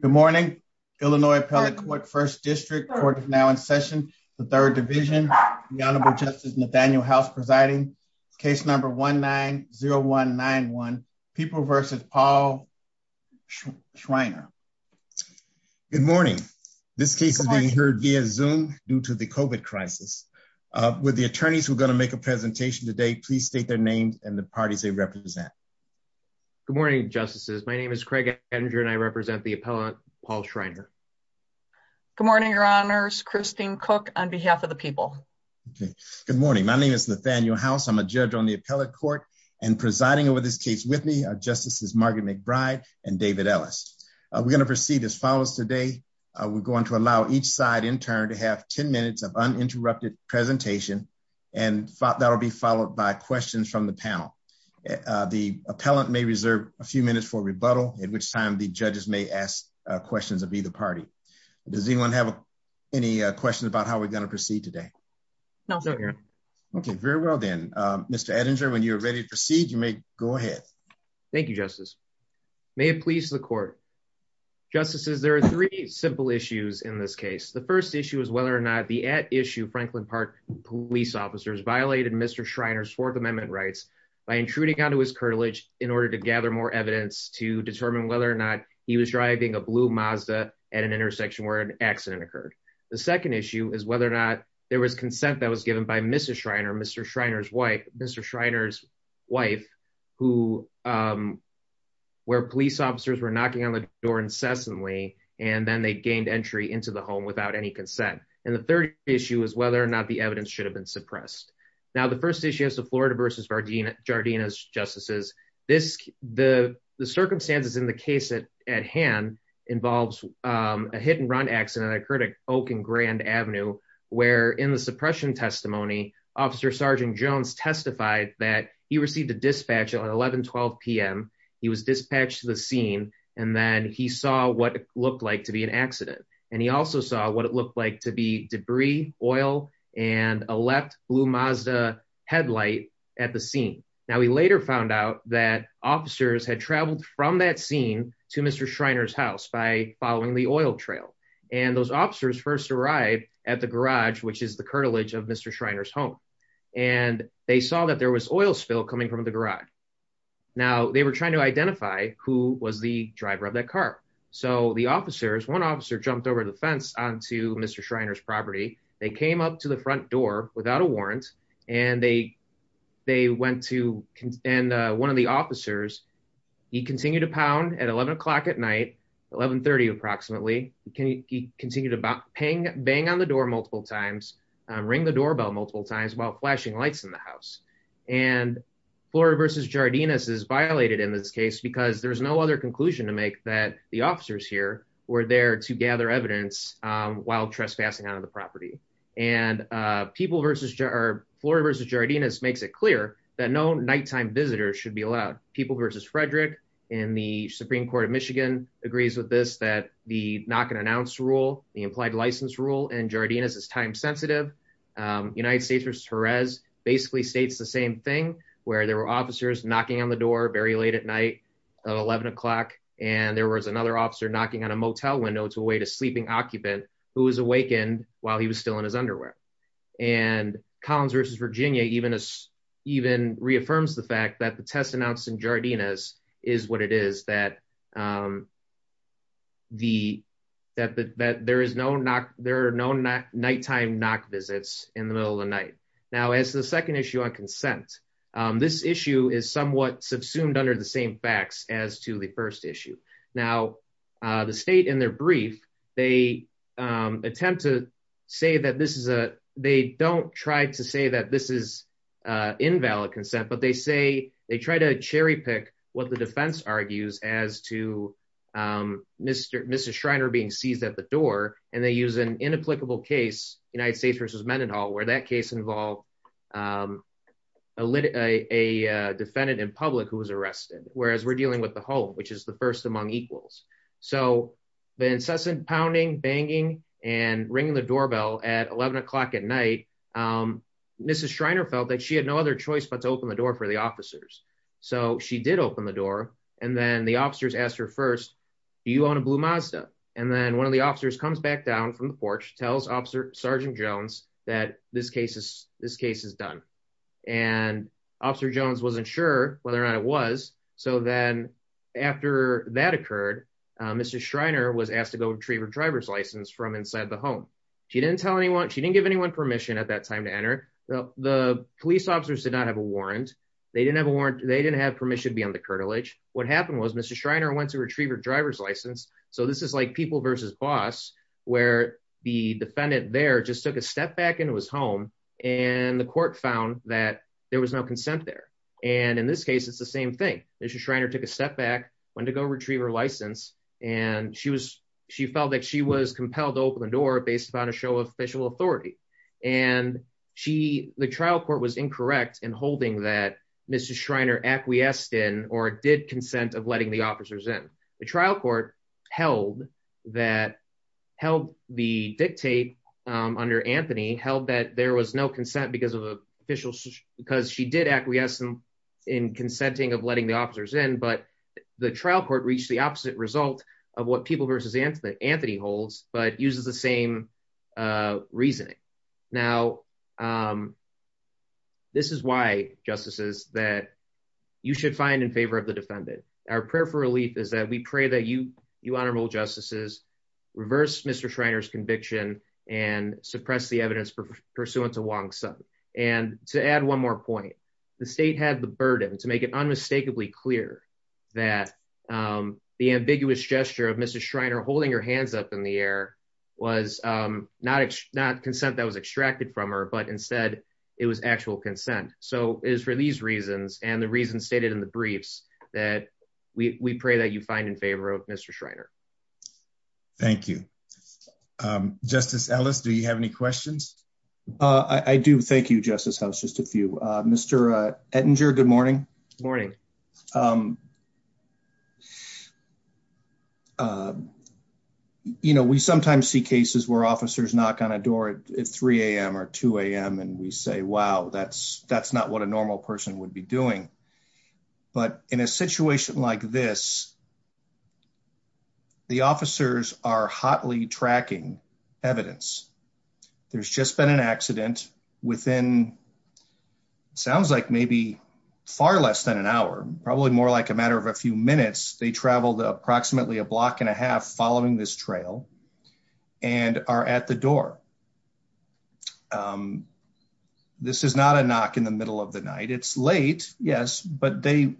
Good morning. Illinois Appellate Court First District Court is now in session. The Third Division. The Honorable Justice Nathaniel House presiding. Case number 1-9-0191 People v. Paul Schreiner. Good morning. This case is being heard via Zoom due to the COVID crisis. Would the attorneys who are going to make a presentation today please state their names and the parties they represent. Good morning, Justices. My name is Craig Ettinger and I represent the appellant Paul Schreiner. Good morning, Your Honors. Christine Cook on behalf of the people. Good morning. My name is Nathaniel House. I'm a judge on the appellate court and presiding over this case with me are Justices Margaret McBride and David Ellis. We're going to proceed as follows today. We're going to allow each side in turn to have 10 minutes of uninterrupted presentation and that will be followed by questions from the panel. The appellant may reserve a few minutes for rebuttal at which time the judges may ask questions of either party. Does anyone have any questions about how we're going to proceed today? No, sir. Okay, very well then. Mr. Ettinger, when you're ready to proceed, you may go ahead. Thank you, Justice. May it please the court. Justices, there are three simple issues in this case. The first issue is whether or not the at issue Franklin Park police officers violated Mr. Schreiner's Fourth Amendment rights by intruding onto his curtilage in order to gather more evidence to determine whether or not he was driving a blue Mazda at an intersection where an accident occurred. The second issue is whether or not there was consent that was given by Mr. Schreiner, Mr. Schreiner's wife, Mr. Schreiner's wife, where police officers were knocking on the door incessantly and then they gained entry into the home without any consent. And the third issue is whether or not the evidence should have been suppressed. Now, the first issue is the Florida versus Jardina's justices. The circumstances in the case at hand involves a hit and run accident that occurred at Oak and Grand Avenue, where in the suppression testimony, Officer Sergeant Jones testified that he received a dispatch at 11, 12 p.m. He was dispatched to the scene and then he what it looked like to be an accident. And he also saw what it looked like to be debris, oil, and a left blue Mazda headlight at the scene. Now, we later found out that officers had traveled from that scene to Mr. Schreiner's house by following the oil trail. And those officers first arrived at the garage, which is the curtilage of Mr. Schreiner's home. And they saw that there was oil spill coming from the garage. Now, they were trying to identify who was the so the officers, one officer jumped over the fence onto Mr. Schreiner's property. They came up to the front door without a warrant. And they, they went to and one of the officers, he continued to pound at 11 o'clock at night, 1130 approximately, he continued about paying bang on the door multiple times, ring the doorbell multiple times while flashing lights in the house. And Florida versus Jardina's is violated in this case, because there's no other conclusion to make that the officers here were there to gather evidence while trespassing out of the property. And people versus Florida versus Jardina's makes it clear that no nighttime visitors should be allowed. People versus Frederick in the Supreme Court of Michigan agrees with this that the knock and announce rule, the implied license rule in Jardina's is time sensitive. United States versus Jerez basically states the same thing, where there were officers knocking on the door very late at 11 o'clock, and there was another officer knocking on a motel window to await a sleeping occupant who was awakened while he was still in his underwear. And Collins versus Virginia even even reaffirms the fact that the test announced in Jardina's is what it is that the that that there is no knock, there are no nighttime knock visits in the middle of the night. Now as the second issue on consent, this issue is somewhat subsumed under the same facts as to the first issue. Now, the state in their brief, they attempt to say that this is a they don't try to say that this is invalid consent, but they say they try to cherry pick what the defense argues as to Mr. Mr. Schreiner being seized at the door, and they use an inapplicable case United States versus Virginia, and that case involved a lit a defendant in public who was arrested, whereas we're dealing with the home, which is the first among equals. So the incessant pounding, banging and ringing the doorbell at 11 o'clock at night, Mrs. Schreiner felt that she had no other choice but to open the door for the officers. So she did open the door. And then the officers asked her first, do you own a blue Mazda? And then one of the officers comes back down from the porch tells Officer Sergeant Jones that this case is this case is done. And Officer Jones wasn't sure whether or not it was. So then, after that occurred, Mr. Schreiner was asked to go retrieve her driver's license from inside the home. She didn't tell anyone she didn't give anyone permission at that time to enter the police officers did not have a warrant. They didn't have a warrant. They didn't have permission to be on the cartilage. What happened was Mr. Schreiner went to retrieve her driver's license. So this is like people versus boss, where the defendant there just took a step back into his home. And the court found that there was no consent there. And in this case, it's the same thing. Mr. Schreiner took a step back when to go retrieve her license. And she was she felt that she was compelled to open the door based upon a show of official authority. And she the trial court was incorrect in holding that Mr. Schreiner acquiesced in or did consent of letting the officers in the trial court held that held the dictate under Anthony held that there was no consent because of official because she did acquiesce in consenting of letting the officers in but the trial court reached the opposite result of what people versus Anthony Anthony holds but uses the same reasoning. Now. This is why justices that you should find in favor of the defendant. Our prayer for relief is that we pray that you you honorable justices reverse Mr. Schreiner's conviction and suppress the evidence pursuant to one son. And to add one more point, the state had the burden to make it unmistakably clear that the ambiguous gesture of Mrs. Schreiner holding her hands up in the air was not not consent that was extracted from her but instead it was actual consent. So it is for these reasons and the reason stated in the briefs that we pray that you find in favor of Mr. Schreiner. Thank you. Um, Justice Ellis, do you have any questions? Uh, I do. Thank you, Justice House. Just a few. Mr. Ettinger. Good morning. Morning. Um, uh, you know, we sometimes see cases where officers knock on a door at 3 a.m. or 2 a.m. and we say, wow, that's that's not what a normal person would be doing. But in a situation like this, the officers are hotly tracking evidence. There's just been an accident within sounds like maybe far less than an hour, probably more like a matter of a few minutes. They traveled approximately a block and a half following this trail and are at the door. Um, this is not a knock in the middle of the night. It's late, yes, but they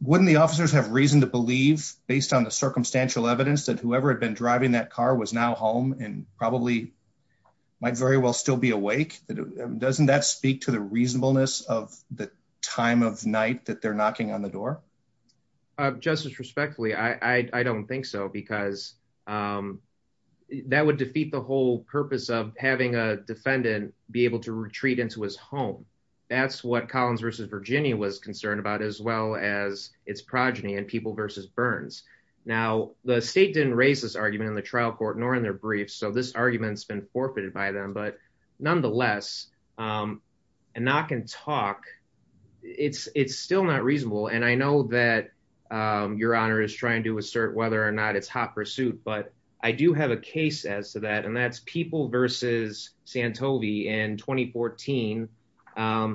wouldn't the officers have reason to believe based on the circumstantial evidence that whoever had been driving that car was now home and probably might very well still be awake. Doesn't that speak to the reasonableness of the time of night that they're knocking on the door? Justice, respectfully, I don't think so, because, um, that would defeat the whole purpose of having a defendant be able to retreat into his home. That's what Collins versus Virginia was concerned about as well as its progeny and people versus burns. Now, the state didn't raise this argument in the trial court nor in their briefs. So this argument's been forfeited by them. But nonetheless, um, a knock and talk. It's it's still not reasonable. And I know that your honor is trying to assert whether or not it's hot pursuit. But I do have a case as to that. And that's people versus Santoli in 2014.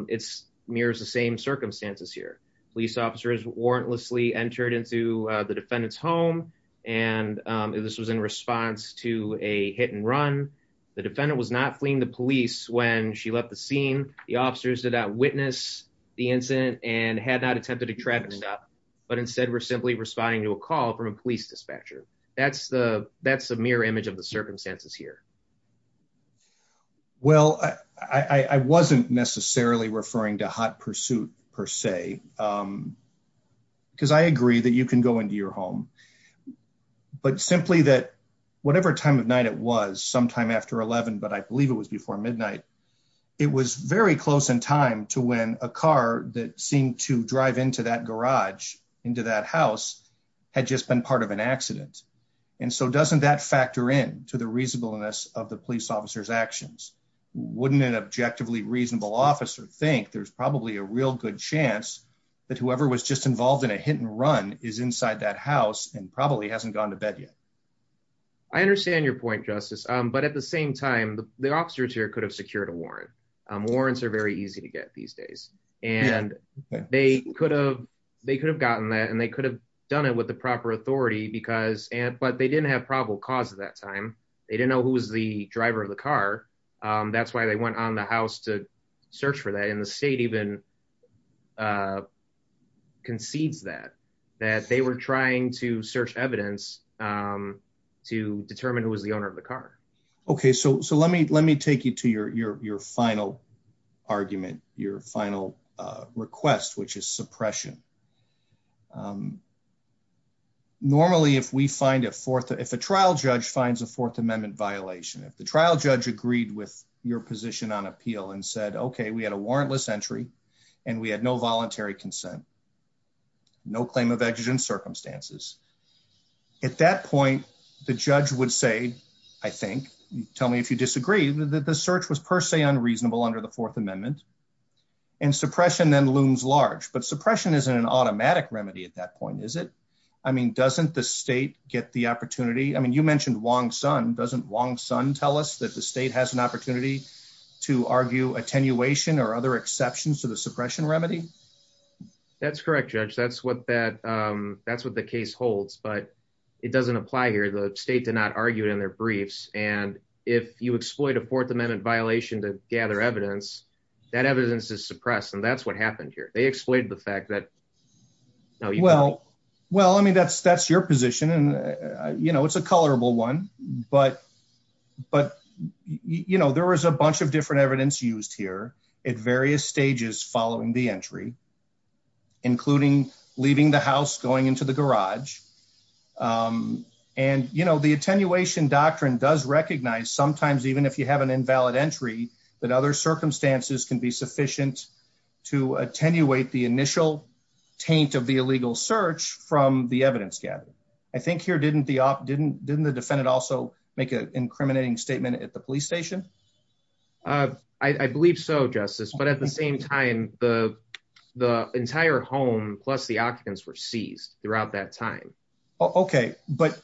It's mirrors the same circumstances here. Police officers warrantlessly entered into the defendant's home. And this was in response to a hit and run. The defendant was not fleeing the police when she left the scene. The officers did not witness the incident and had not attempted to trap him. But instead, we're simply responding to a call from a police dispatcher. That's the that's the mirror image of the circumstances here. Well, I wasn't necessarily referring to hot pursuit, per se. Because I agree that you can go into your home. But simply that whatever time of night it was sometime after 11, but I believe it was before midnight, it was very close in time to when a car that seemed to drive into that garage into that house had just been part of an accident. And so doesn't that factor in to the reasonableness of the police officers actions? Wouldn't an objectively reasonable officer think there's probably a real good chance that whoever was just involved in a hit and run is inside that house and probably hasn't gone to bed yet? I understand your point, Justice. But at the same time, the officers here could have secured a warrant. Warrants are very easy to get these days. And they could have they could have gotten that and they could have done it with the proper authority because and but they didn't have probable cause at that time. They didn't know who was the driver of the car. That's why they went on the house to search for that in the state even concedes that that they were trying to search evidence to determine who was the owner of the car. Okay, so so let me let me take you to your your your final argument, your final request, which is suppression. Normally, if we find a fourth, if a trial judge finds a Fourth Amendment violation, if the trial judge agreed with your position on appeal and said, okay, we had a warrantless entry, and we had no voluntary consent, no claim of exigent circumstances. At that point, the judge would say, I think, tell me if you disagree that the search was per se unreasonable under the Fourth Amendment. And suppression then looms large. But suppression isn't an automatic remedy at that point, is it? I mean, doesn't the state get the opportunity? I mean, you mentioned Wong Son, doesn't Wong Son tell us that the state has an opportunity to argue attenuation or other exceptions to the suppression remedy? That's correct, Judge. That's what that that's what the case holds. But it doesn't apply here. The state did not argue in their briefs. And if you exploit a Fourth Amendment violation to gather evidence, that evidence is suppressed. And that's what happened here. They exploited the fact that well, well, I mean, that's that's your position. And, you know, it's a colorable one. But, but, you know, there was a bunch of different evidence used here at various stages following the entry, including leaving the house going into the garage. And, you know, the attenuation doctrine does recognize sometimes even if you have an invalid entry, that other circumstances can be sufficient to attenuate the initial taint of the illegal search from the evidence gathered. I think here didn't the defendant also make an incriminating statement at the police station? I believe so, Justice, but at the same time, the entire home plus the occupants were seized throughout that time. Okay, but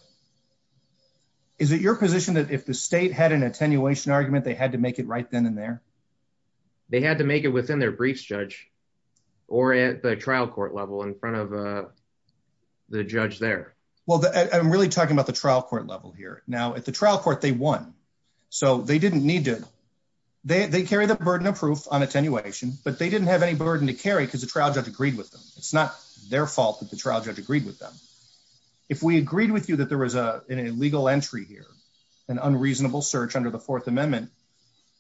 is it your position that if the state had an attenuation argument, they had to make it right then and there? They had to make it within their briefs, Judge, or at the trial court level in front of the judge there? Well, I'm really talking about the trial court level here. Now at the trial court, they won. So they didn't need to. They carry the burden of proof on attenuation, but they didn't have any burden to carry because the trial judge agreed with them. It's not their fault that the trial judge agreed with them. If we agreed with you that there was a legal entry here, an unreasonable search under the Fourth Amendment,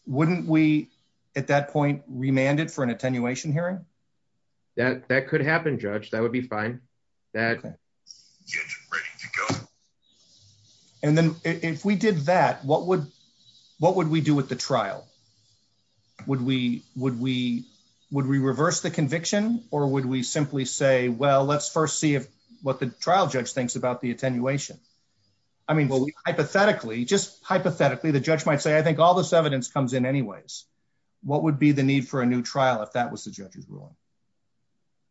wouldn't we, at that point, remand it for an attenuation hearing? That could happen, Judge. That would be fine. And then if we did that, what would we do with the trial? Would we reverse the conviction or would we simply say, well, let's first see what the trial judge thinks about the attenuation? I mean, hypothetically, just hypothetically, the judge might say, I think all this evidence comes in anyways. What would be the need for a new trial if that was the judge's ruling?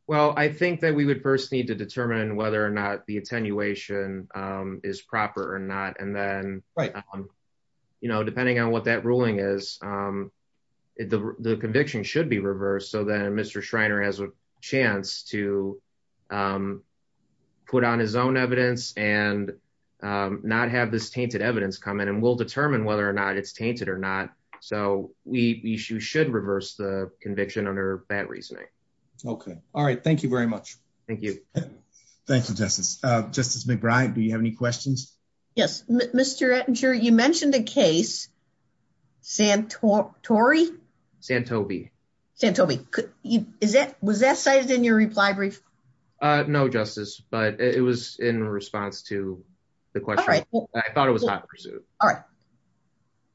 Well, I think that we would first need to determine whether or not the attenuation is proper or not. And then, you know, depending on what that ruling is, the conviction should be reversed. So then Mr. Schreiner has a chance to put on his own evidence and not have this tainted evidence come in and we'll determine whether or not it's tainted or not. So we should reverse the conviction under that reasoning. Okay. All right. Thank you very much. Thank you. Thank you, Justice. Justice McBride, do you have any questions? Yes. Mr. Ettinger, you mentioned a case, Santori? Santobi. Santobi. Was that cited in your reply brief? No, Justice, but it was in response to the question. I thought it was hot pursuit. All right.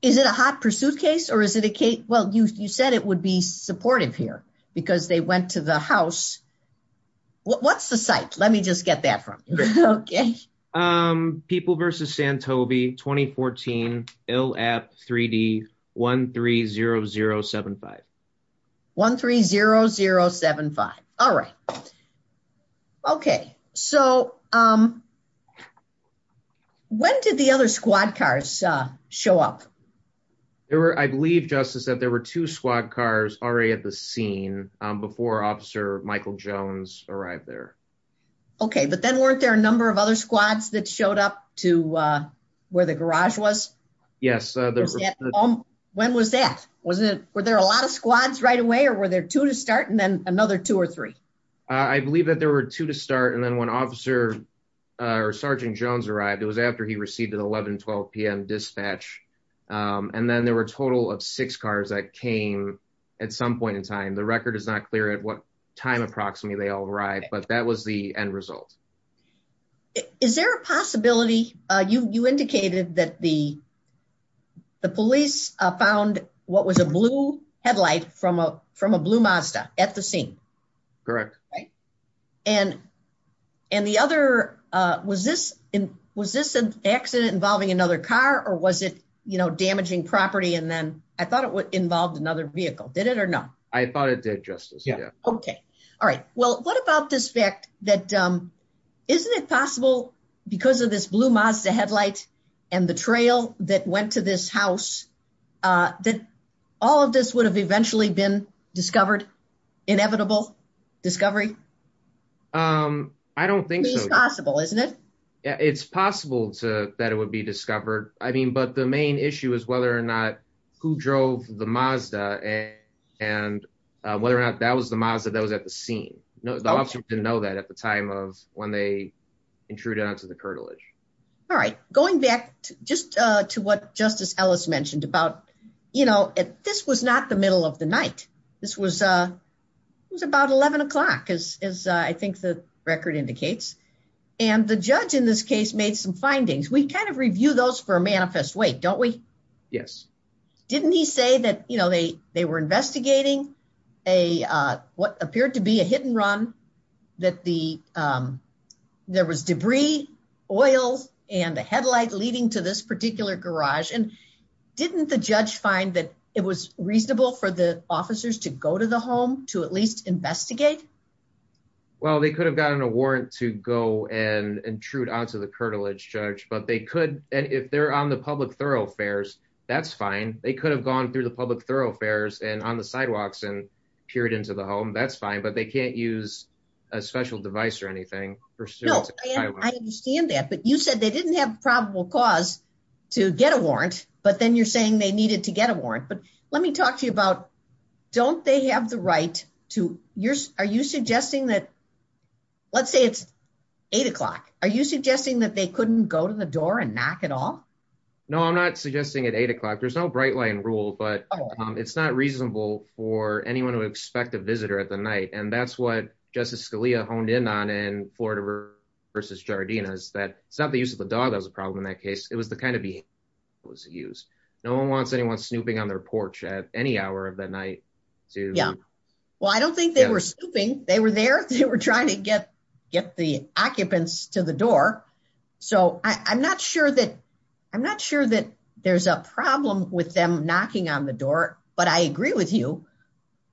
Is it a hot pursuit case or is it a case? Well, you said it would be supportive here because they went to the house. What's the site? Let me just get that from you. Okay. People versus Santobi, 2014, ILAP 3D, 130075. 130075. All right. Okay. So when did the other squad cars show up? I believe, Justice, that there were two squad cars already at the scene before Officer Michael Jones arrived there. Okay. But then weren't there a number of other squads that showed up to where the garage was? Yes. When was that? Were there a lot of squads right away or were there two to start and then another two or three? I believe that there were two to start and then when Officer or Sergeant Jones arrived, it was after he received an 11, 12 p.m. dispatch, and then there were a total of six cars that came at some point in time. The record is not clear at what time approximately they all arrived, but that was the end result. Is there a possibility, you indicated that the police found what was a blue headlight from a blue Mazda at the scene? Correct. And the other, was this an accident involving another car or was it, you know, damaging property and then I thought it involved another vehicle. Did it or no? I thought it did, Justice. Yeah. Okay. All right. Well, what about this fact that, isn't it possible because of this blue Mazda headlight and the trail that went to this house that all of this would have eventually been discovered, inevitable discovery? I don't think so. It's possible, isn't it? It's possible that it would be discovered. I mean, but the main issue is whether or not who drove the Mazda and whether or not that was the Mazda at the scene. The officer didn't know that at the time of when they intruded onto the curtilage. All right. Going back just to what Justice Ellis mentioned about, you know, this was not the middle of the night. This was, it was about 11 o'clock as I think the record indicates. And the judge in this case made some findings. We kind of review those for a manifest way, don't we? Yes. Didn't he say that, you know, they were investigating what appeared to be a hit and run, that there was debris, oil, and the headlight leading to this particular garage. And didn't the judge find that it was reasonable for the officers to go to the home to at least investigate? Well, they could have gotten a warrant to go and intrude onto the curtilage, Judge, but they could. And if they're on the public thoroughfares, that's fine. They could have gone through the public thoroughfares and on the sidewalks and peered into the home. That's fine. But they can't use a special device or anything. No, I understand that. But you said they didn't have probable cause to get a warrant, but then you're saying they needed to get a warrant. But let me talk to you about, don't they have the right to, are you suggesting that, let's say it's eight o'clock, are you suggesting that they couldn't go to the door and knock at all? No, I'm not suggesting at eight o'clock. There's no bright line rule, but it's not reasonable for anyone to expect a visitor at the night. And that's what Justice Scalia honed in on in Florida versus Jardina is that it's not the use of the dog that was a problem in that case. It was the kind of behavior that was used. No one wants anyone snooping on their porch at any hour of the trying to get the occupants to the door. So I'm not sure that there's a problem with them knocking on the door. But I agree with you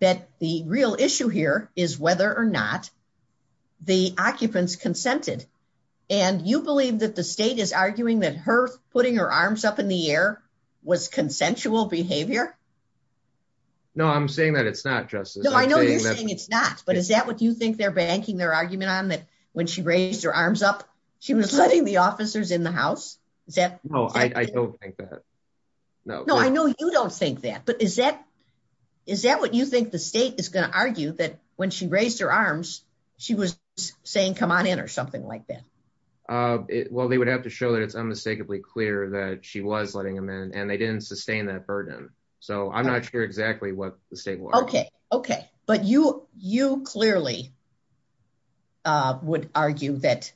that the real issue here is whether or not the occupants consented. And you believe that the state is arguing that her putting her arms up in the air was consensual behavior? No, I'm saying that it's not, Justice. No, I know you're saying it's not. But is that what you think they're banking their argument on that when she raised her arms up, she was letting the officers in the house? Is that? No, I don't think that. No, no, I know you don't think that. But is that? Is that what you think the state is going to argue that when she raised her arms, she was saying, Come on in or something like that? Well, they would have to show that it's unmistakably clear that she was letting them in and they didn't sustain that burden. So I'm not sure exactly what the state. Okay, okay. But you, you clearly would argue that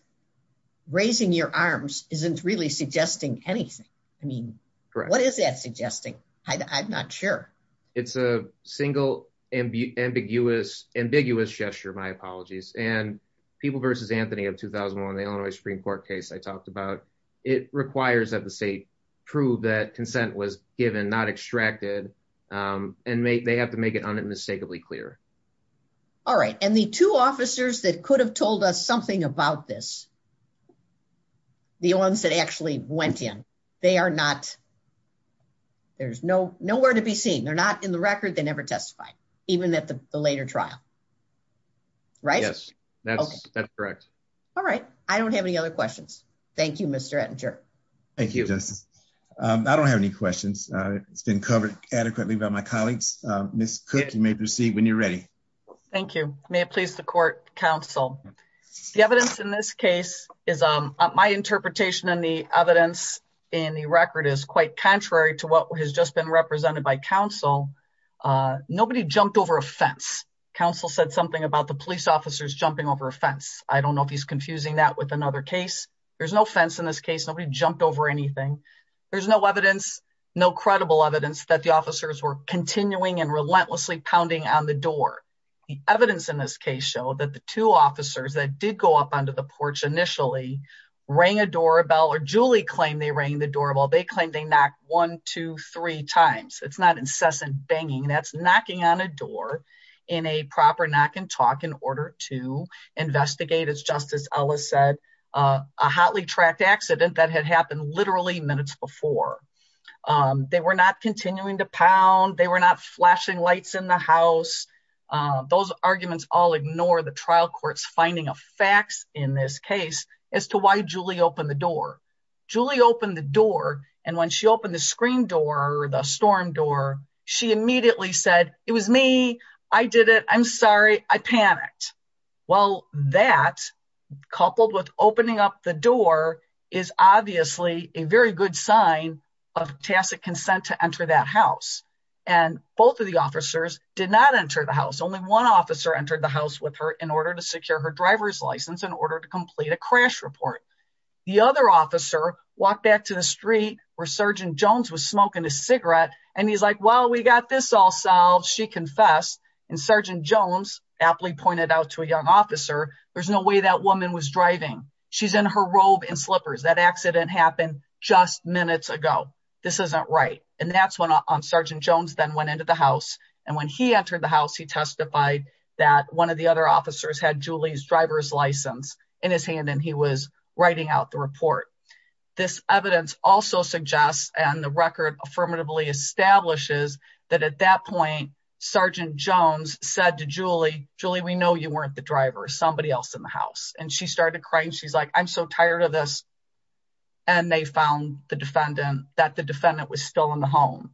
raising your arms isn't really suggesting anything. I mean, what is that suggesting? I'm not sure. It's a single ambiguous, ambiguous gesture, my apologies, and people versus Anthony of 2001. The Illinois Supreme Court case I talked about, it requires that the state prove that consent was given not extracted. And they have to make it unmistakably clear. All right. And the two officers that could have told us something about this. The ones that actually went in, they are not. There's no nowhere to be seen. They're not in the record. They never testified, even at the later trial. Right? Yes. That's correct. All right. I don't have any other questions. Thank you, Mr. Edger. Thank you. I don't have any questions. It's been covered adequately by my colleagues. Ms. Cook, you may proceed when you're ready. Thank you. May it please the court, counsel. The evidence in this case is my interpretation and the evidence in the record is quite contrary to what has just been represented by counsel. Nobody jumped over a fence. Counsel said something about the police officers jumping over a fence. I don't know if he's confusing that with another case. There's no fence in this case. Nobody jumped over anything. There's no evidence, no credible evidence that the officers were continuing and relentlessly pounding on the door. The evidence in this case show that the two officers that did go up onto the porch initially rang a doorbell or Julie claimed they rang the doorbell. They claimed they knocked one, two, three times. It's not incessant banging. That's knocking on a door in a proper knock and talk in order to investigate, as Justice Ellis said, a hotly tracked accident that had happened literally minutes before. They were not continuing to pound. They were not flashing lights in the house. Those arguments all ignore the trial court's finding of facts in this case as to why Julie opened the door. Julie opened the door and when she opened the screen door, the storm door, she immediately said, it was me. I did it. I'm sorry. I panicked. Well, that coupled with opening up the door is obviously a very good sign of tacit consent to enter that house. Both of the officers did not enter the house. Only one officer entered the house with her in order to secure her driver's license in order to complete a crash report. The other officer walked back to the street where Sgt. Jones was smoking a cigarette and he's like, we got this all solved. She confessed. Sgt. Jones aptly pointed out to a young officer, there's no way that woman was driving. She's in her robe and slippers. That accident happened just minutes ago. This isn't right. That's when Sgt. Jones then went into the house. When he entered the house, he testified that one of the other officers had Julie's driver's license in his hand and he was writing out the report. This evidence also suggests and the record affirmatively establishes that at that point, Sgt. Jones said to Julie, Julie, we know you weren't the driver. Somebody else in the house. She started crying. She's like, I'm so tired of this. They found that the defendant was still in the home.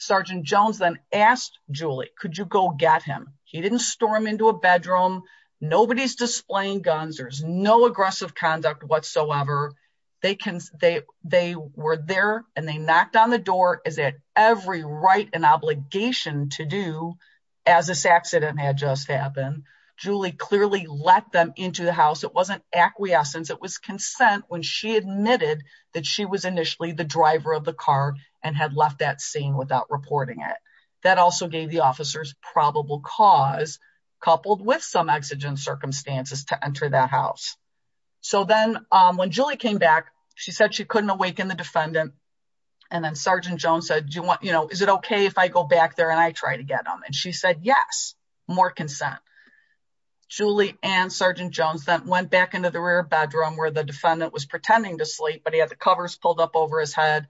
Sgt. Jones then asked Julie, could you go get him? He didn't store him into a bedroom. Nobody's displaying guns. There's no aggressive conduct whatsoever. They were there and they knocked on the door as at every right and obligation to do as this accident had just happened. Julie clearly let them into the house. It wasn't acquiescence. It was consent when she admitted that she was initially the driver of the car and had left that scene without reporting it. That also gave the officers probable cause, coupled with some exigent circumstances to enter that house. So then when Julie came back, she said she couldn't awaken the defendant. And then Sgt. Jones said, do you want, you know, is it okay if I go back there and I try to get him? And she said, yes, more consent. Julie and Sgt. Jones then went back into the rear bedroom where the defendant was pretending to sleep, but he had the covers pulled up over his head.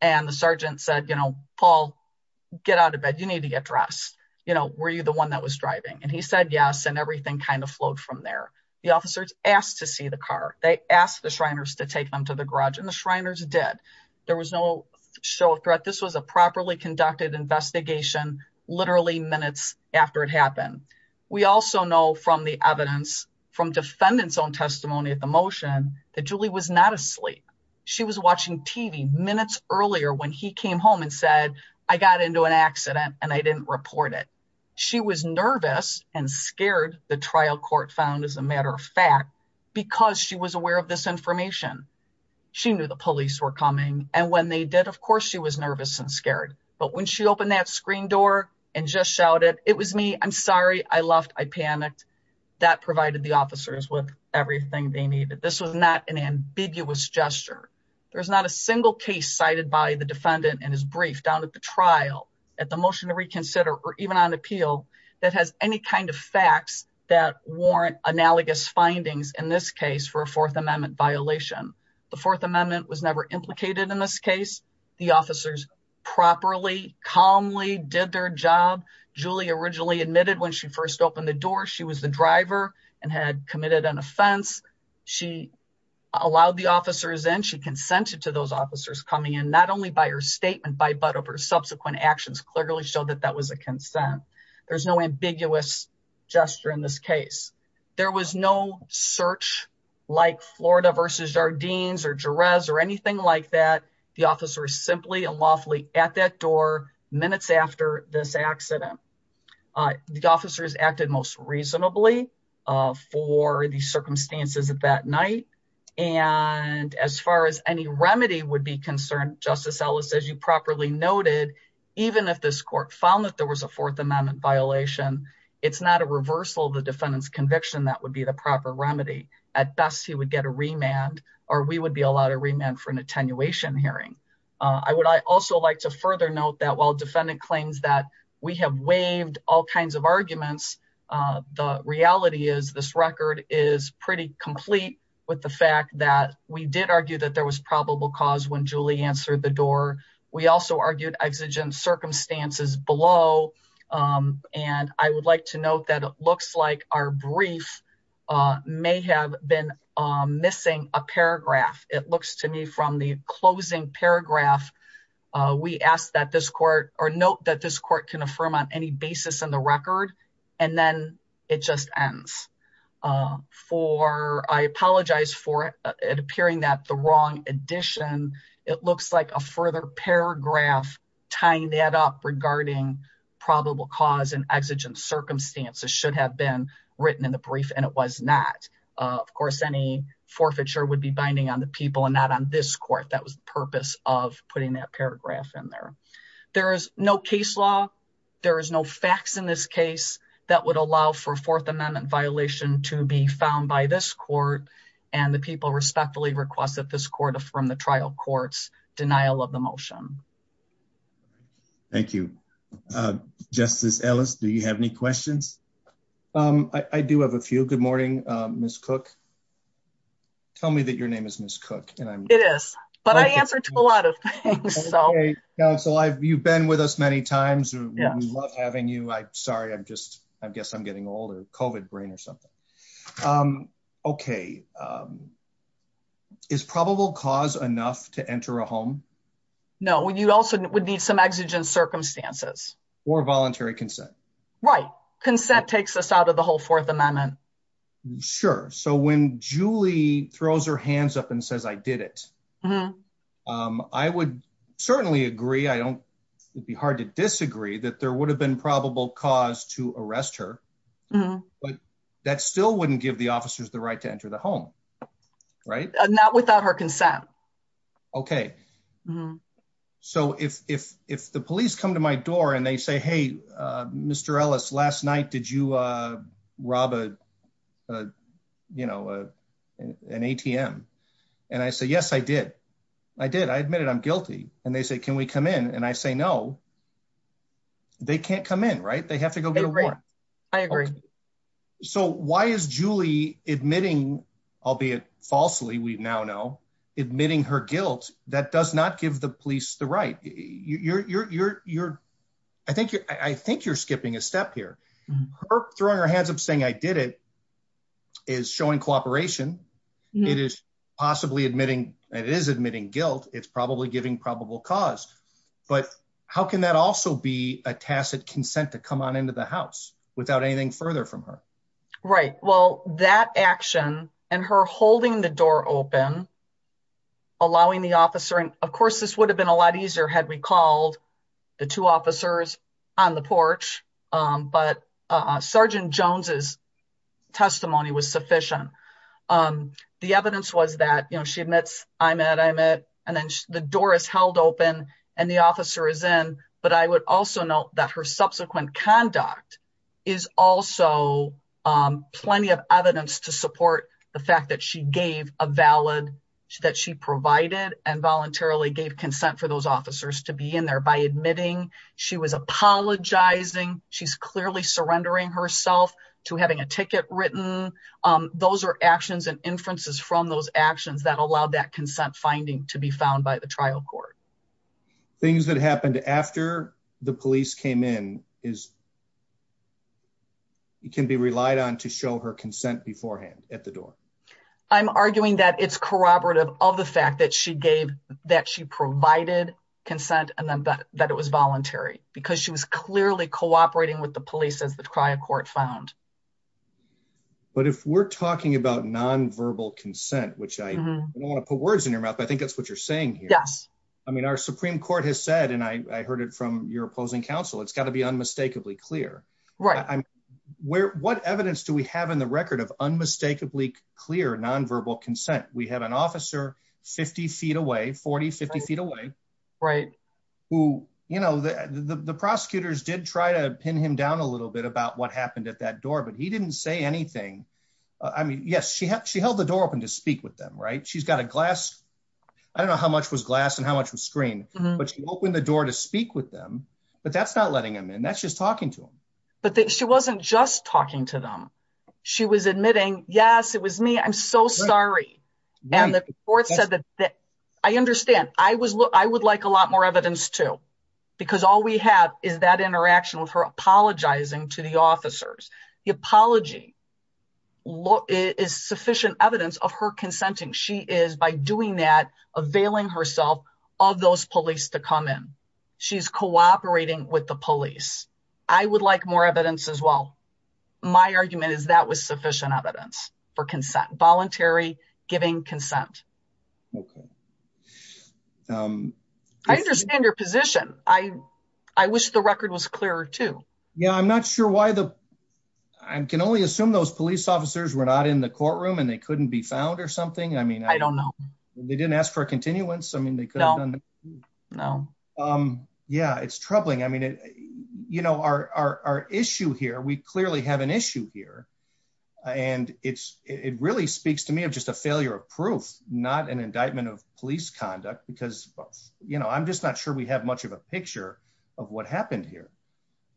And the sergeant said, you know, Paul, get out of bed. You need to get dressed. You know, were you the one that was driving? And he said, yes. And everything kind of flowed from there. The officers asked to see the car. They asked the Shriners to take them to the garage and the Shriners did. There was no show of threat. This was a properly conducted investigation, literally minutes after it happened. We also know from the evidence from defendants own testimony at the motion that Julie was not asleep. She was watching TV minutes earlier when he came home and said, I got into an accident and I didn't report it. She was nervous and scared. The trial court found as a matter of fact, because she was aware of this information, she knew the police were coming. And when they did, of course she was nervous and scared. But when she opened that screen door and just shout it, it was me. I'm sorry. I left. I panicked that provided the officers with everything they needed. This was not an ambiguous gesture. There was not a single case cited by the defendant and his brief down at the trial at the motion to reconsider, or even on appeal that has any kind of facts that warrant analogous findings in this case for a fourth amendment violation. The fourth amendment was never implicated in this case. The officers properly calmly did their job. Julie originally admitted when she first opened the door, she was the driver and had committed an offense. She allowed officers in. She consented to those officers coming in, not only by her statement, but of her subsequent actions clearly showed that that was a consent. There's no ambiguous gesture in this case. There was no search like Florida versus Jardines or Jerez or anything like that. The officer is simply and lawfully at that door minutes after this accident, the officers acted most reasonably for the circumstances of that night. And as far as any remedy would be concerned, justice Ellis, as you properly noted, even if this court found that there was a fourth amendment violation, it's not a reversal of the defendant's conviction. That would be the proper remedy at best. He would get a remand or we would be allowed to remand for an attenuation hearing. I would also like to further note that while defendant claims that we have waived all kinds of arguments, uh, the reality is this record is pretty complete with the fact that we did argue that there was probable cause when Julie answered the door. We also argued exigent circumstances below. Um, and I would like to note that it looks like our brief, uh, may have been, um, missing a paragraph. It looks to me from the closing paragraph, uh, we asked that this court or note that this court can affirm on any basis in the record. And then it just ends, uh, for, I apologize for it appearing that the wrong edition, it looks like a further paragraph tying that up regarding probable cause and exigent circumstances should have been written in the brief. And it was not, uh, of course, any forfeiture would be binding on the people and not on this court. That was the paragraph in there. There is no case law. There is no facts in this case that would allow for fourth amendment violation to be found by this court. And the people respectfully request that this court from the trial courts, denial of the motion. Thank you. Uh, justice Ellis, do you have any questions? Um, I do have a few good morning. Um, Ms. Cook, tell me that your name is Ms. Cook but I answered to a lot of things. So you've been with us many times. We love having you. I'm sorry. I'm just, I guess I'm getting older COVID brain or something. Um, okay. Um, is probable cause enough to enter a home? No. Well, you also would need some exigent circumstances or voluntary consent, right? Consent takes us out of the whole fourth amendment. Sure. So when Julie throws her um, I would certainly agree. I don't, it'd be hard to disagree that there would have been probable cause to arrest her, but that still wouldn't give the officers the right to enter the home, right? Not without her consent. Okay. So if, if, if the police come to my door and they say, Mr. Ellis, last night, did you, uh, rob a, uh, you know, uh, an ATM? And I say, yes, I did. I did. I admit it. I'm guilty. And they say, can we come in? And I say, no, they can't come in. Right. They have to go get a warrant. I agree. So why is Julie admitting, albeit falsely, we now know admitting her guilt that does not give the police the right you're, you're, you're, I think you're, I think you're skipping a step here. Her throwing her hands up saying I did it is showing cooperation. It is possibly admitting it is admitting guilt. It's probably giving probable cause, but how can that also be a tacit consent to come on into the house without anything further from her? Right? Well, that action and her holding the door open, allowing the officer, and of course this would have been a lot easier had we called the two officers on the porch. Um, but, uh, Sergeant Jones's testimony was sufficient. Um, the evidence was that, you know, she admits I'm at, I'm at, and then the door is held open and the officer is in, but I would also note that her subsequent conduct is also, um, plenty of that she provided and voluntarily gave consent for those officers to be in there by admitting she was apologizing. She's clearly surrendering herself to having a ticket written. Um, those are actions and inferences from those actions that allowed that consent finding to be found by the trial court. Things that happened after the police came in is you can be relied on to the fact that she gave that she provided consent and then that it was voluntary because she was clearly cooperating with the police as the trial court found. But if we're talking about nonverbal consent, which I don't want to put words in your mouth, but I think that's what you're saying here. I mean, our Supreme court has said, and I heard it from your opposing counsel. It's got to be unmistakably clear where, what evidence do we have in the record of unmistakably clear, nonverbal consent? We have an officer 50 feet away, 40, 50 feet away. Right. Who, you know, the, the, the prosecutors did try to pin him down a little bit about what happened at that door, but he didn't say anything. I mean, yes, she had, she held the door open to speak with them, right? She's got a glass. I don't know how much was glass and how much was screen, but she opened the door to speak with them, but that's not letting him in. She's talking to him, but she wasn't just talking to them. She was admitting, yes, it was me. I'm so sorry. And the court said that I understand. I was, I would like a lot more evidence too, because all we have is that interaction with her apologizing to the officers. The apology is sufficient evidence of her consenting. She is by doing that availing herself of those police to come in. She's cooperating with the police. I would like more evidence as well. My argument is that was sufficient evidence for consent, voluntary giving consent. Okay. Um, I understand your position. I, I wish the record was clearer too. Yeah. I'm not sure why the, I can only assume those police officers were not in the courtroom and they couldn't be found or something. I mean, they didn't ask for a continuance. I mean, they could have done. No. Um, yeah, it's troubling. I mean, it, you know, our, our, our issue here, we clearly have an issue here and it's, it really speaks to me of just a failure of proof, not an indictment of police conduct because, you know, I'm just not sure we have much of a picture of what happened here.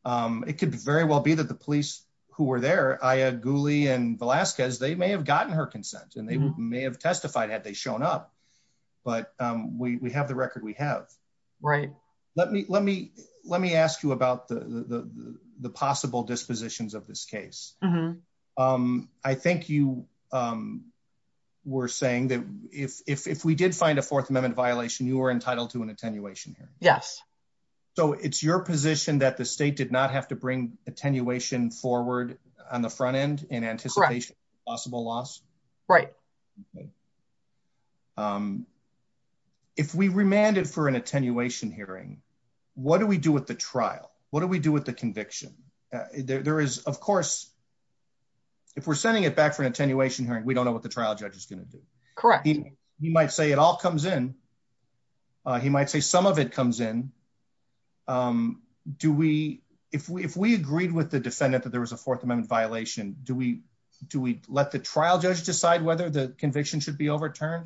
Um, it could very well be that the police who were there, I had Guli and Velasquez, they may have gotten her consent and may have testified had they shown up, but, um, we, we have the record. We have right. Let me, let me, let me ask you about the, the, the, the possible dispositions of this case. Um, I think you, um, we're saying that if, if, if we did find a fourth amendment violation, you were entitled to an attenuation here. Yes. So it's your position that the state did not have to bring attenuation forward on the front end in anticipation of possible loss. Right. Um, if we remanded for an attenuation hearing, what do we do with the trial? What do we do with the conviction? There is, of course, if we're sending it back for an attenuation hearing, we don't know what the trial judge is going to do. Correct. He might say it all comes in. Uh, he might say some of it there was a fourth amendment violation. Do we, do we let the trial judge decide whether the conviction should be overturned?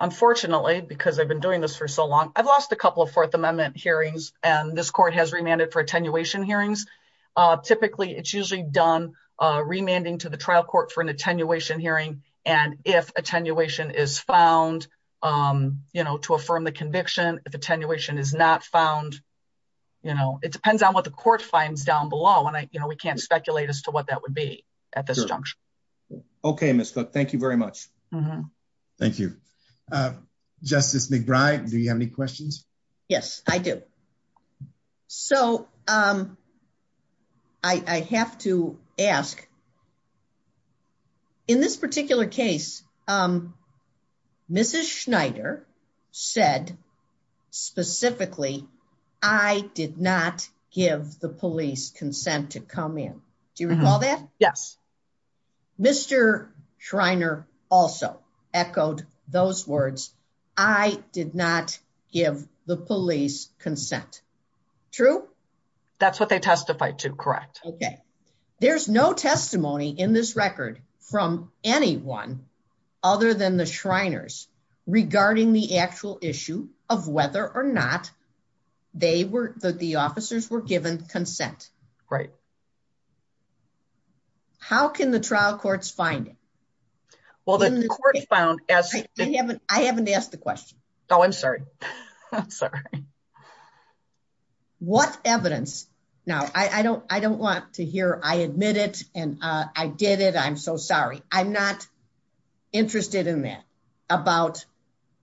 Unfortunately, because I've been doing this for so long, I've lost a couple of fourth amendment hearings and this court has remanded for attenuation hearings. Uh, typically it's usually done a remanding to the trial court for an attenuation hearing. And if attenuation is found, um, you know, to affirm the conviction, if attenuation is not found, you know, it depends on what the court finds down below. And I, you know, we can't speculate as to what that would be at this juncture. Okay. Ms. Cook, thank you very much. Thank you. Uh, justice McBride, do you have any questions? Yes, I do. So, um, I, I have to ask a question. In this particular case, um, Mrs. Schneider said specifically, I did not give the police consent to come in. Do you recall that? Yes. Mr. Schreiner also echoed those words. I did not give the police consent. True. That's what they testified to. Correct. Okay. There's no testimony in this record from anyone other than the Shriners regarding the actual issue of whether or not they were, that the officers were given consent. Right. How can the trial courts find it? Well, the court found as I haven't, I haven't asked the question. Oh, I'm sorry. I'm sorry. What evidence now? I don't, I don't want to hear. I admit it. And, uh, I did it. I'm so sorry. I'm not interested in that about,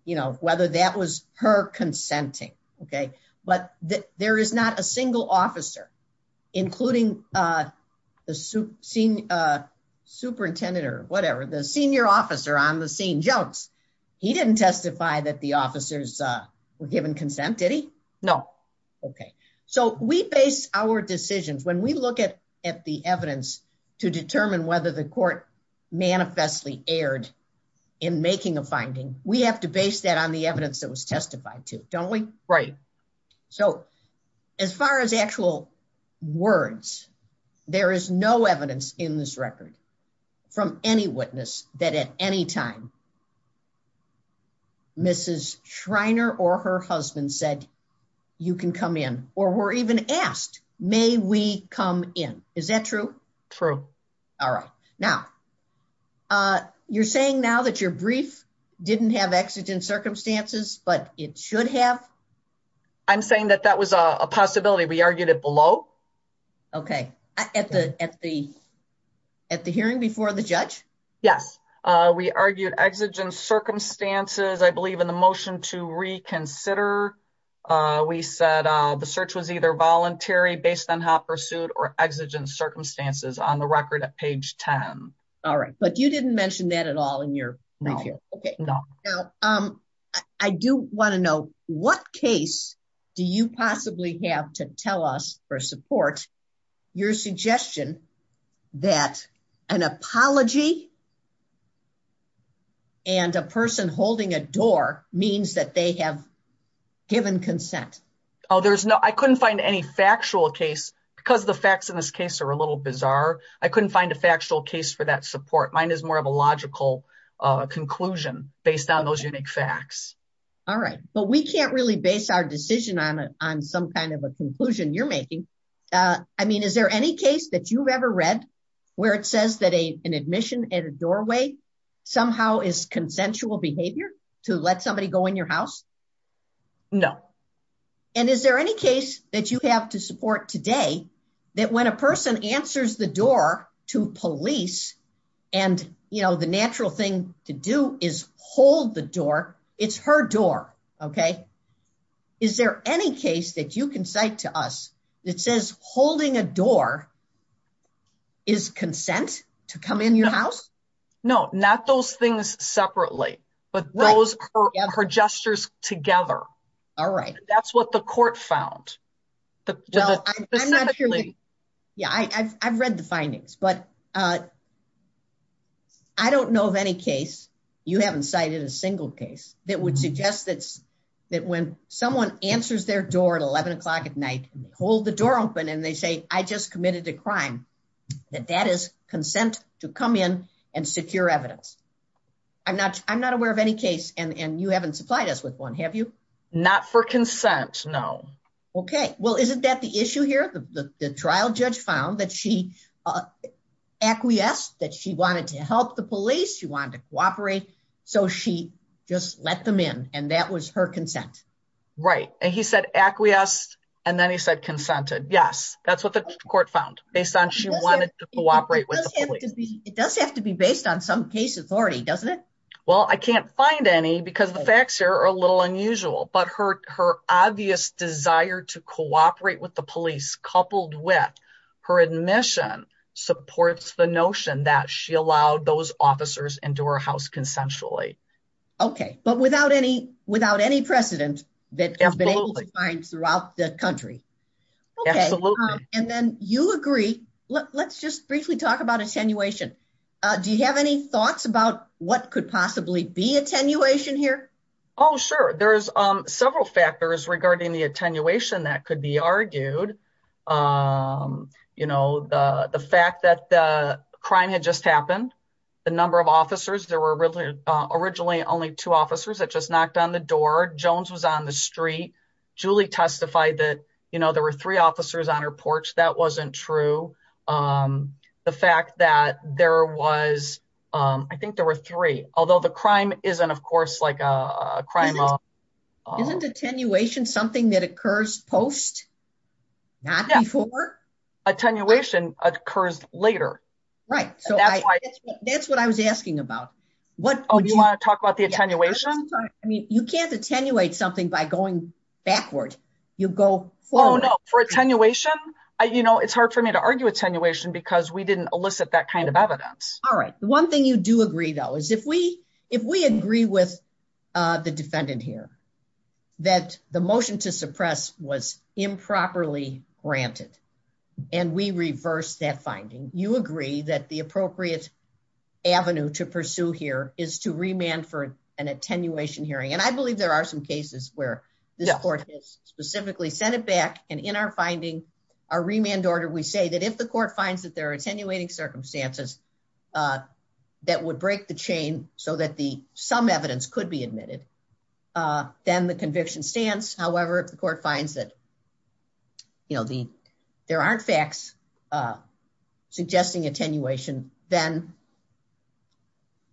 you know, whether that was her consenting. Okay. But there is not a single officer, including, uh, the super senior, uh, were given consent. Did he? No. Okay. So we base our decisions. When we look at, at the evidence to determine whether the court manifestly aired in making a finding, we have to base that on the evidence that was testified to don't we? Right. So as far as actual words, there is no evidence in this record from any witness that at any time, Mrs. Shriner or her husband said you can come in or were even asked, may we come in? Is that true? True. All right. Now, uh, you're saying now that your brief didn't have exigent circumstances, but it should have. I'm saying that that was a possibility. We argued it below. Okay. At the, at the, at the hearing before the judge? Yes. Uh, we argued exigent circumstances. I believe in the motion to reconsider, uh, we said, uh, the search was either voluntary based on how pursued or exigent circumstances on the record at page 10. All right. But you didn't mention that at all in your right here. Okay. Now, um, I do want to know what case do you possibly have to tell us for support your suggestion that an apology and a person holding a door means that they have given consent? Oh, there's no, I couldn't find any factual case because the facts in this case are a little bizarre. I couldn't find a factual case for that support. Mine is more of a logical, uh, conclusion based on those unique facts. All right. But we can't really base our decision on a, on some kind of a conclusion you're making. Uh, I mean, is there any case that you've ever read where it says that a, an admission at a doorway somehow is consensual behavior to let somebody go in your house? No. And is there any case that you have to support today that when a person answers the door to police and, you know, natural thing to do is hold the door. It's her door. Okay. Is there any case that you can cite to us that says holding a door is consent to come in your house? No, not those things separately, but those are her gestures together. All right. That's what the court found. No, I'm not sure. Yeah. I I've, I've read the findings, but, uh, I don't know of any case. You haven't cited a single case that would suggest that's that when someone answers their door at 11 o'clock at night, hold the door open. And they say, I just committed a crime that that is consent to come in and secure evidence. I'm not, I'm not aware of any case. And you haven't supplied us with one. Have you not for consent? No. Okay. Well, isn't that the issue here? The trial judge found that she acquiesced, that she wanted to help the police. You wanted to cooperate. So she just let them in and that was her consent. Right. And he said acquiesced. And then he said, consented. Yes. That's what the court found based on. She wanted to cooperate with the police. It does have to be based on some case authority, doesn't it? Well, I can't find any because the facts here are a little unusual, but her, her obvious desire to cooperate with the police coupled with her admission supports the notion that she allowed those officers into her house consensually. Okay. But without any, without any precedent that I've been able to find throughout the country. Okay. And then you agree. Let's just briefly talk about attenuation. Do you have any thoughts about what could possibly be attenuation here? Oh, sure. There's several factors regarding the attenuation that could be argued. You know, the fact that the crime had just happened, the number of officers, there were really originally only two officers that just knocked on the door. Jones was on the street. Julie testified that, you know, there were three although the crime isn't of course like a crime. Isn't attenuation something that occurs post? Not before? Attenuation occurs later. Right. So that's why that's what I was asking about. What do you want to talk about the attenuation? I mean, you can't attenuate something by going backward. You go forward. For attenuation, you know, it's hard for me to argue attenuation because we didn't elicit that kind of evidence. All right. One thing you do agree though, if we agree with the defendant here that the motion to suppress was improperly granted and we reverse that finding, you agree that the appropriate avenue to pursue here is to remand for an attenuation hearing. And I believe there are some cases where this court has specifically sent it back. And in our finding, our remand order, we say that if the court finds that attenuating circumstances that would break the chain so that some evidence could be admitted, then the conviction stands. However, if the court finds that, you know, there aren't facts suggesting attenuation, then,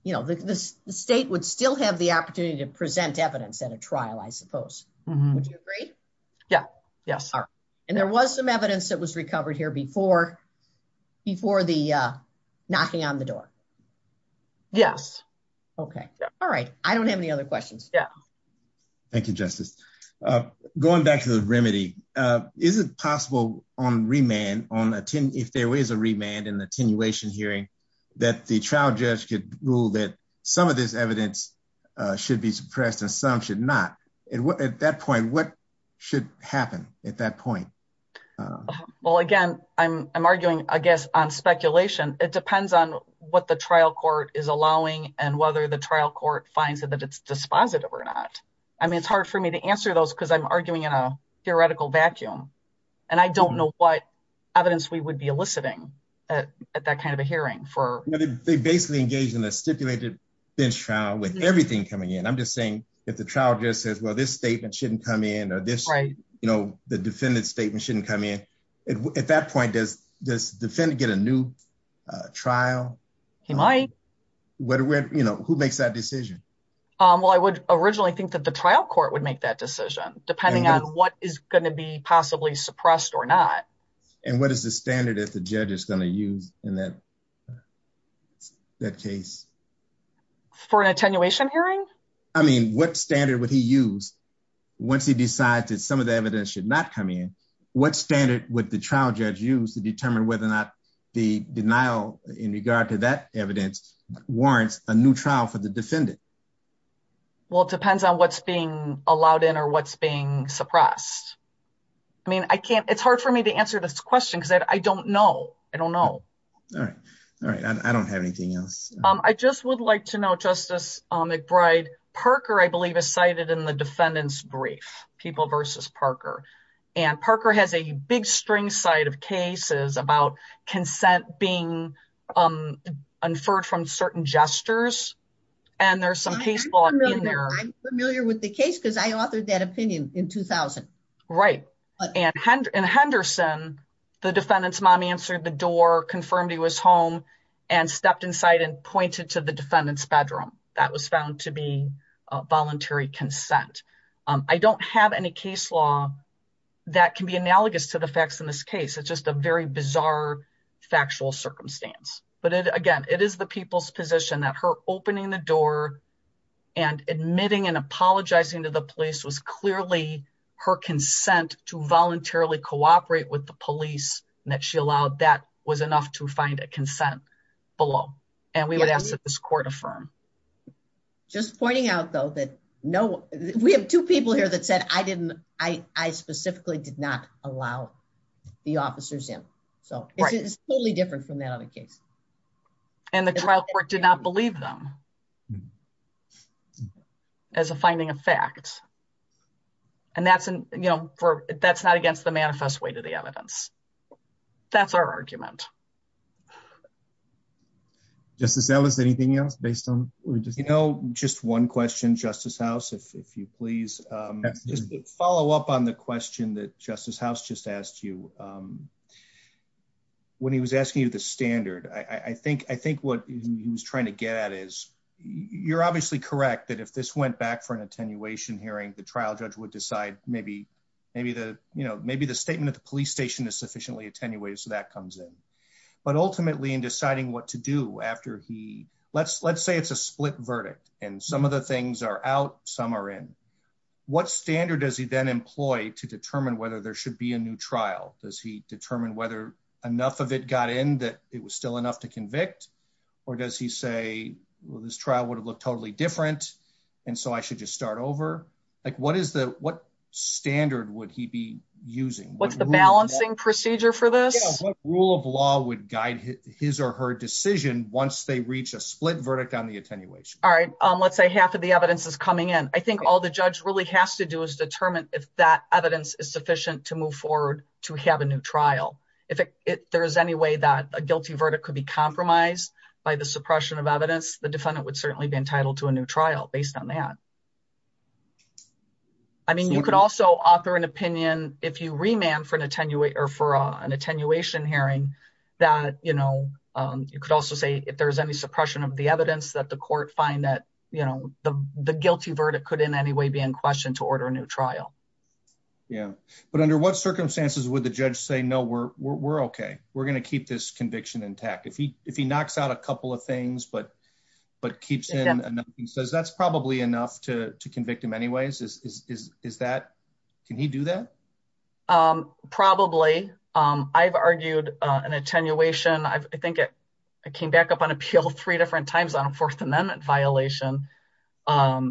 you know, the state would still have the opportunity to present evidence at a trial, I suppose. Would you agree? Yeah. Yes. And there was some evidence that was before the knocking on the door. Yes. Okay. All right. I don't have any other questions. Yeah. Thank you, Justice. Going back to the remedy, is it possible on remand, if there is a remand in attenuation hearing, that the trial judge could rule that some of this evidence should be suppressed and some should not? At that point, what should happen at that point? Well, again, I'm arguing, I guess, on speculation. It depends on what the trial court is allowing and whether the trial court finds that it's dispositive or not. I mean, it's hard for me to answer those because I'm arguing in a theoretical vacuum. And I don't know what evidence we would be eliciting at that kind of a hearing. They basically engage in a stipulated bench trial with everything coming in. I'm just saying, if the trial judge says, well, this statement shouldn't come in, at that point, does the defendant get a new trial? He might. Who makes that decision? Well, I would originally think that the trial court would make that decision, depending on what is going to be possibly suppressed or not. And what is the standard that the judge is going to use in that case? For an attenuation hearing? I mean, standard would he use once he decides that some of the evidence should not come in? What standard would the trial judge use to determine whether or not the denial in regard to that evidence warrants a new trial for the defendant? Well, it depends on what's being allowed in or what's being suppressed. I mean, I can't, it's hard for me to answer this question because I don't know. I don't know. All right. All right. I don't have anything else. I just like to know, Justice McBride, Parker, I believe, is cited in the defendant's brief, People v. Parker. And Parker has a big string side of cases about consent being inferred from certain gestures. And there's some case law in there. I'm familiar with the case because I authored that opinion in 2000. Right. And Henderson, the defendant's mom, answered the door, confirmed he was home, and stepped inside and pointed to the defendant's bedroom. That was found to be voluntary consent. I don't have any case law that can be analogous to the facts in this case. It's just a very bizarre, factual circumstance. But again, it is the people's position that her opening the door and admitting and apologizing to the police was clearly her consent to voluntarily cooperate with the police, and that she allowed that was enough to find a consent below. And we would ask that this court affirm. Just pointing out, though, that no, we have two people here that said, I didn't, I specifically did not allow the officers in. So it's totally different from that other case. And the trial court did not and that's, you know, that's not against the manifest way to the evidence. That's our argument. Justice Ellis, anything else based on, you know, just one question, Justice House, if you please follow up on the question that Justice House just asked you. When he was asking you the standard, I think, I think what he was trying to get at is you're obviously correct that if this went back for an attenuation hearing, the trial judge would decide maybe, maybe the, you know, maybe the statement at the police station is sufficiently attenuated. So that comes in. But ultimately, in deciding what to do after he, let's, let's say it's a split verdict. And some of the things are out, some are in. What standard does he then employ to determine whether there should be a new trial? Does he determine whether enough of it got in that it was still enough to convict? Or does he say, well, this trial would have looked totally different. And so I should just start over. Like what is the what standard would he be using? What's the balancing procedure for this rule of law would guide his or her decision once they reach a split verdict on the attenuation? All right. Let's say half of the evidence is coming in. I think all the judge really has to do is determine if that evidence is sufficient to move forward to have a new trial. If there is any way that a guilty verdict could be compromised by the suppression of evidence, the defendant would certainly be entitled to a new trial based on that. I mean, you could also offer an opinion if you remand for an attenuate or for an attenuation hearing that, you know, you could also say if there's any suppression of the evidence that the court find that, you know, the guilty verdict could in any way be in question to order a new trial. Yeah. But under what circumstances would the judge say, no, we're OK. We're going to keep this conviction intact if he if he knocks out a couple of things, but but keeps in and he says that's probably enough to convict him anyways. Is that can he do that? Probably. I've argued an attenuation. I think it came back up on appeal three different times on a Fourth Amendment violation. I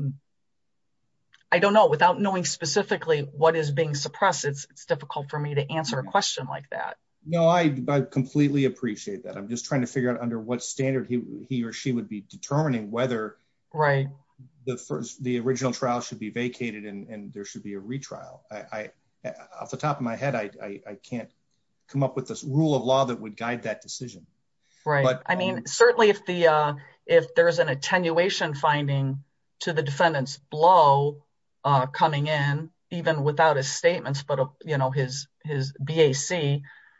don't know, without knowing specifically what is being suppressed, it's difficult for me to answer a question like that. No, I completely appreciate that. I'm just trying to figure out under what standard he or she would be determining whether. Right. The first the original trial should be vacated and there should be a retrial. I off the top of my head, I can't come up with this rule of law that would guide that decision. Right. But I mean, certainly if if there is an attenuation finding to the defendant's blow coming in, even without a statement, but, you know, his his BAC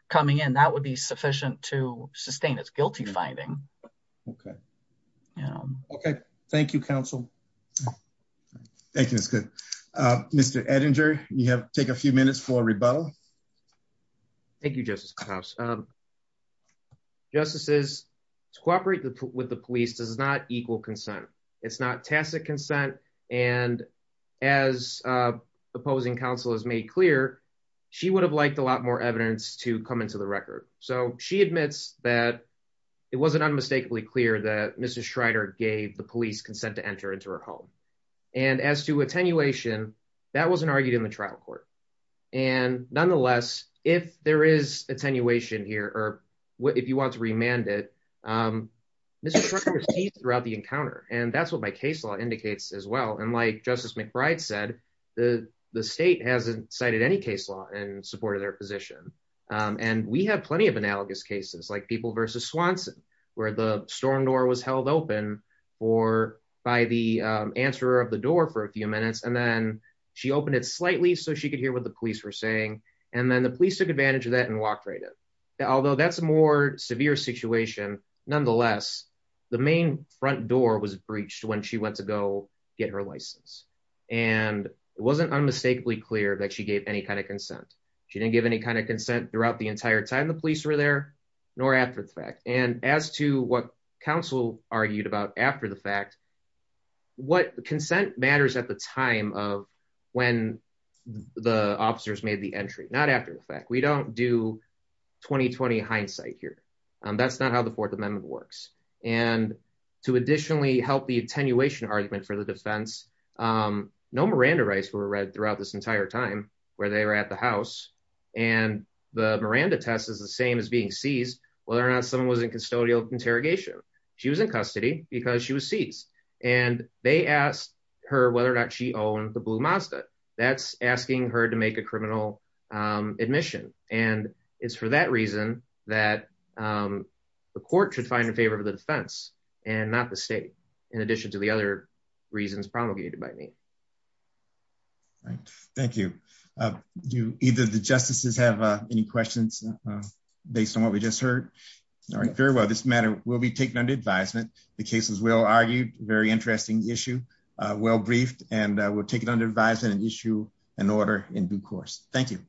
coming in, that would be sufficient to sustain its guilty finding. OK. Yeah. OK. Thank you, counsel. Thank you. It's good. Mr. Edinger, you have to take a few minutes for rebuttal. Thank you, Justice House. Justices to cooperate with the police does not equal consent. It's not tacit consent. And as the opposing counsel has made clear, she would have liked a lot more evidence to come into the record. So she admits that it wasn't unmistakably clear that Mrs. Schrader gave the police consent to enter into her home. And as to attenuation, that wasn't in the trial court. And nonetheless, if there is attenuation here or if you want to remand it, Mr. Schrader sees throughout the encounter. And that's what my case law indicates as well. And like Justice McBride said, the state hasn't cited any case law in support of their position. And we have plenty of analogous cases like people versus Swanson, where the storm door was held open for by the answer of the door for a few minutes, and then she opened it slightly so she could hear what the police were saying. And then the police took advantage of that and walked right in. Although that's a more severe situation. Nonetheless, the main front door was breached when she went to go get her license. And it wasn't unmistakably clear that she gave any kind of consent. She didn't give any kind of consent throughout the entire time the police were there, nor after the fact. And as to what counsel argued about after the fact, what consent matters at the time of when the officers made the entry, not after the fact, we don't do 2020 hindsight here. That's not how the Fourth Amendment works. And to additionally help the attenuation argument for the defense. No Miranda rights were read throughout this entire time, where they were at the house. And the Miranda test is the same as being seized, whether or not someone was in custodial interrogation. She was in custody because she was seized. And they asked her whether or not she owned the blue Mazda that's asking her to make a criminal admission. And it's for that reason that the court should find in favor of the defense and not the state. In addition to the other reasons promulgated by me. All right. Thank you. Do either the justices have any questions based on what we just heard? All right, very well. This matter will be taken under advisement. The cases will argue very interesting issue, well briefed, and we'll take it under advisement and issue an order in due course. Thank you.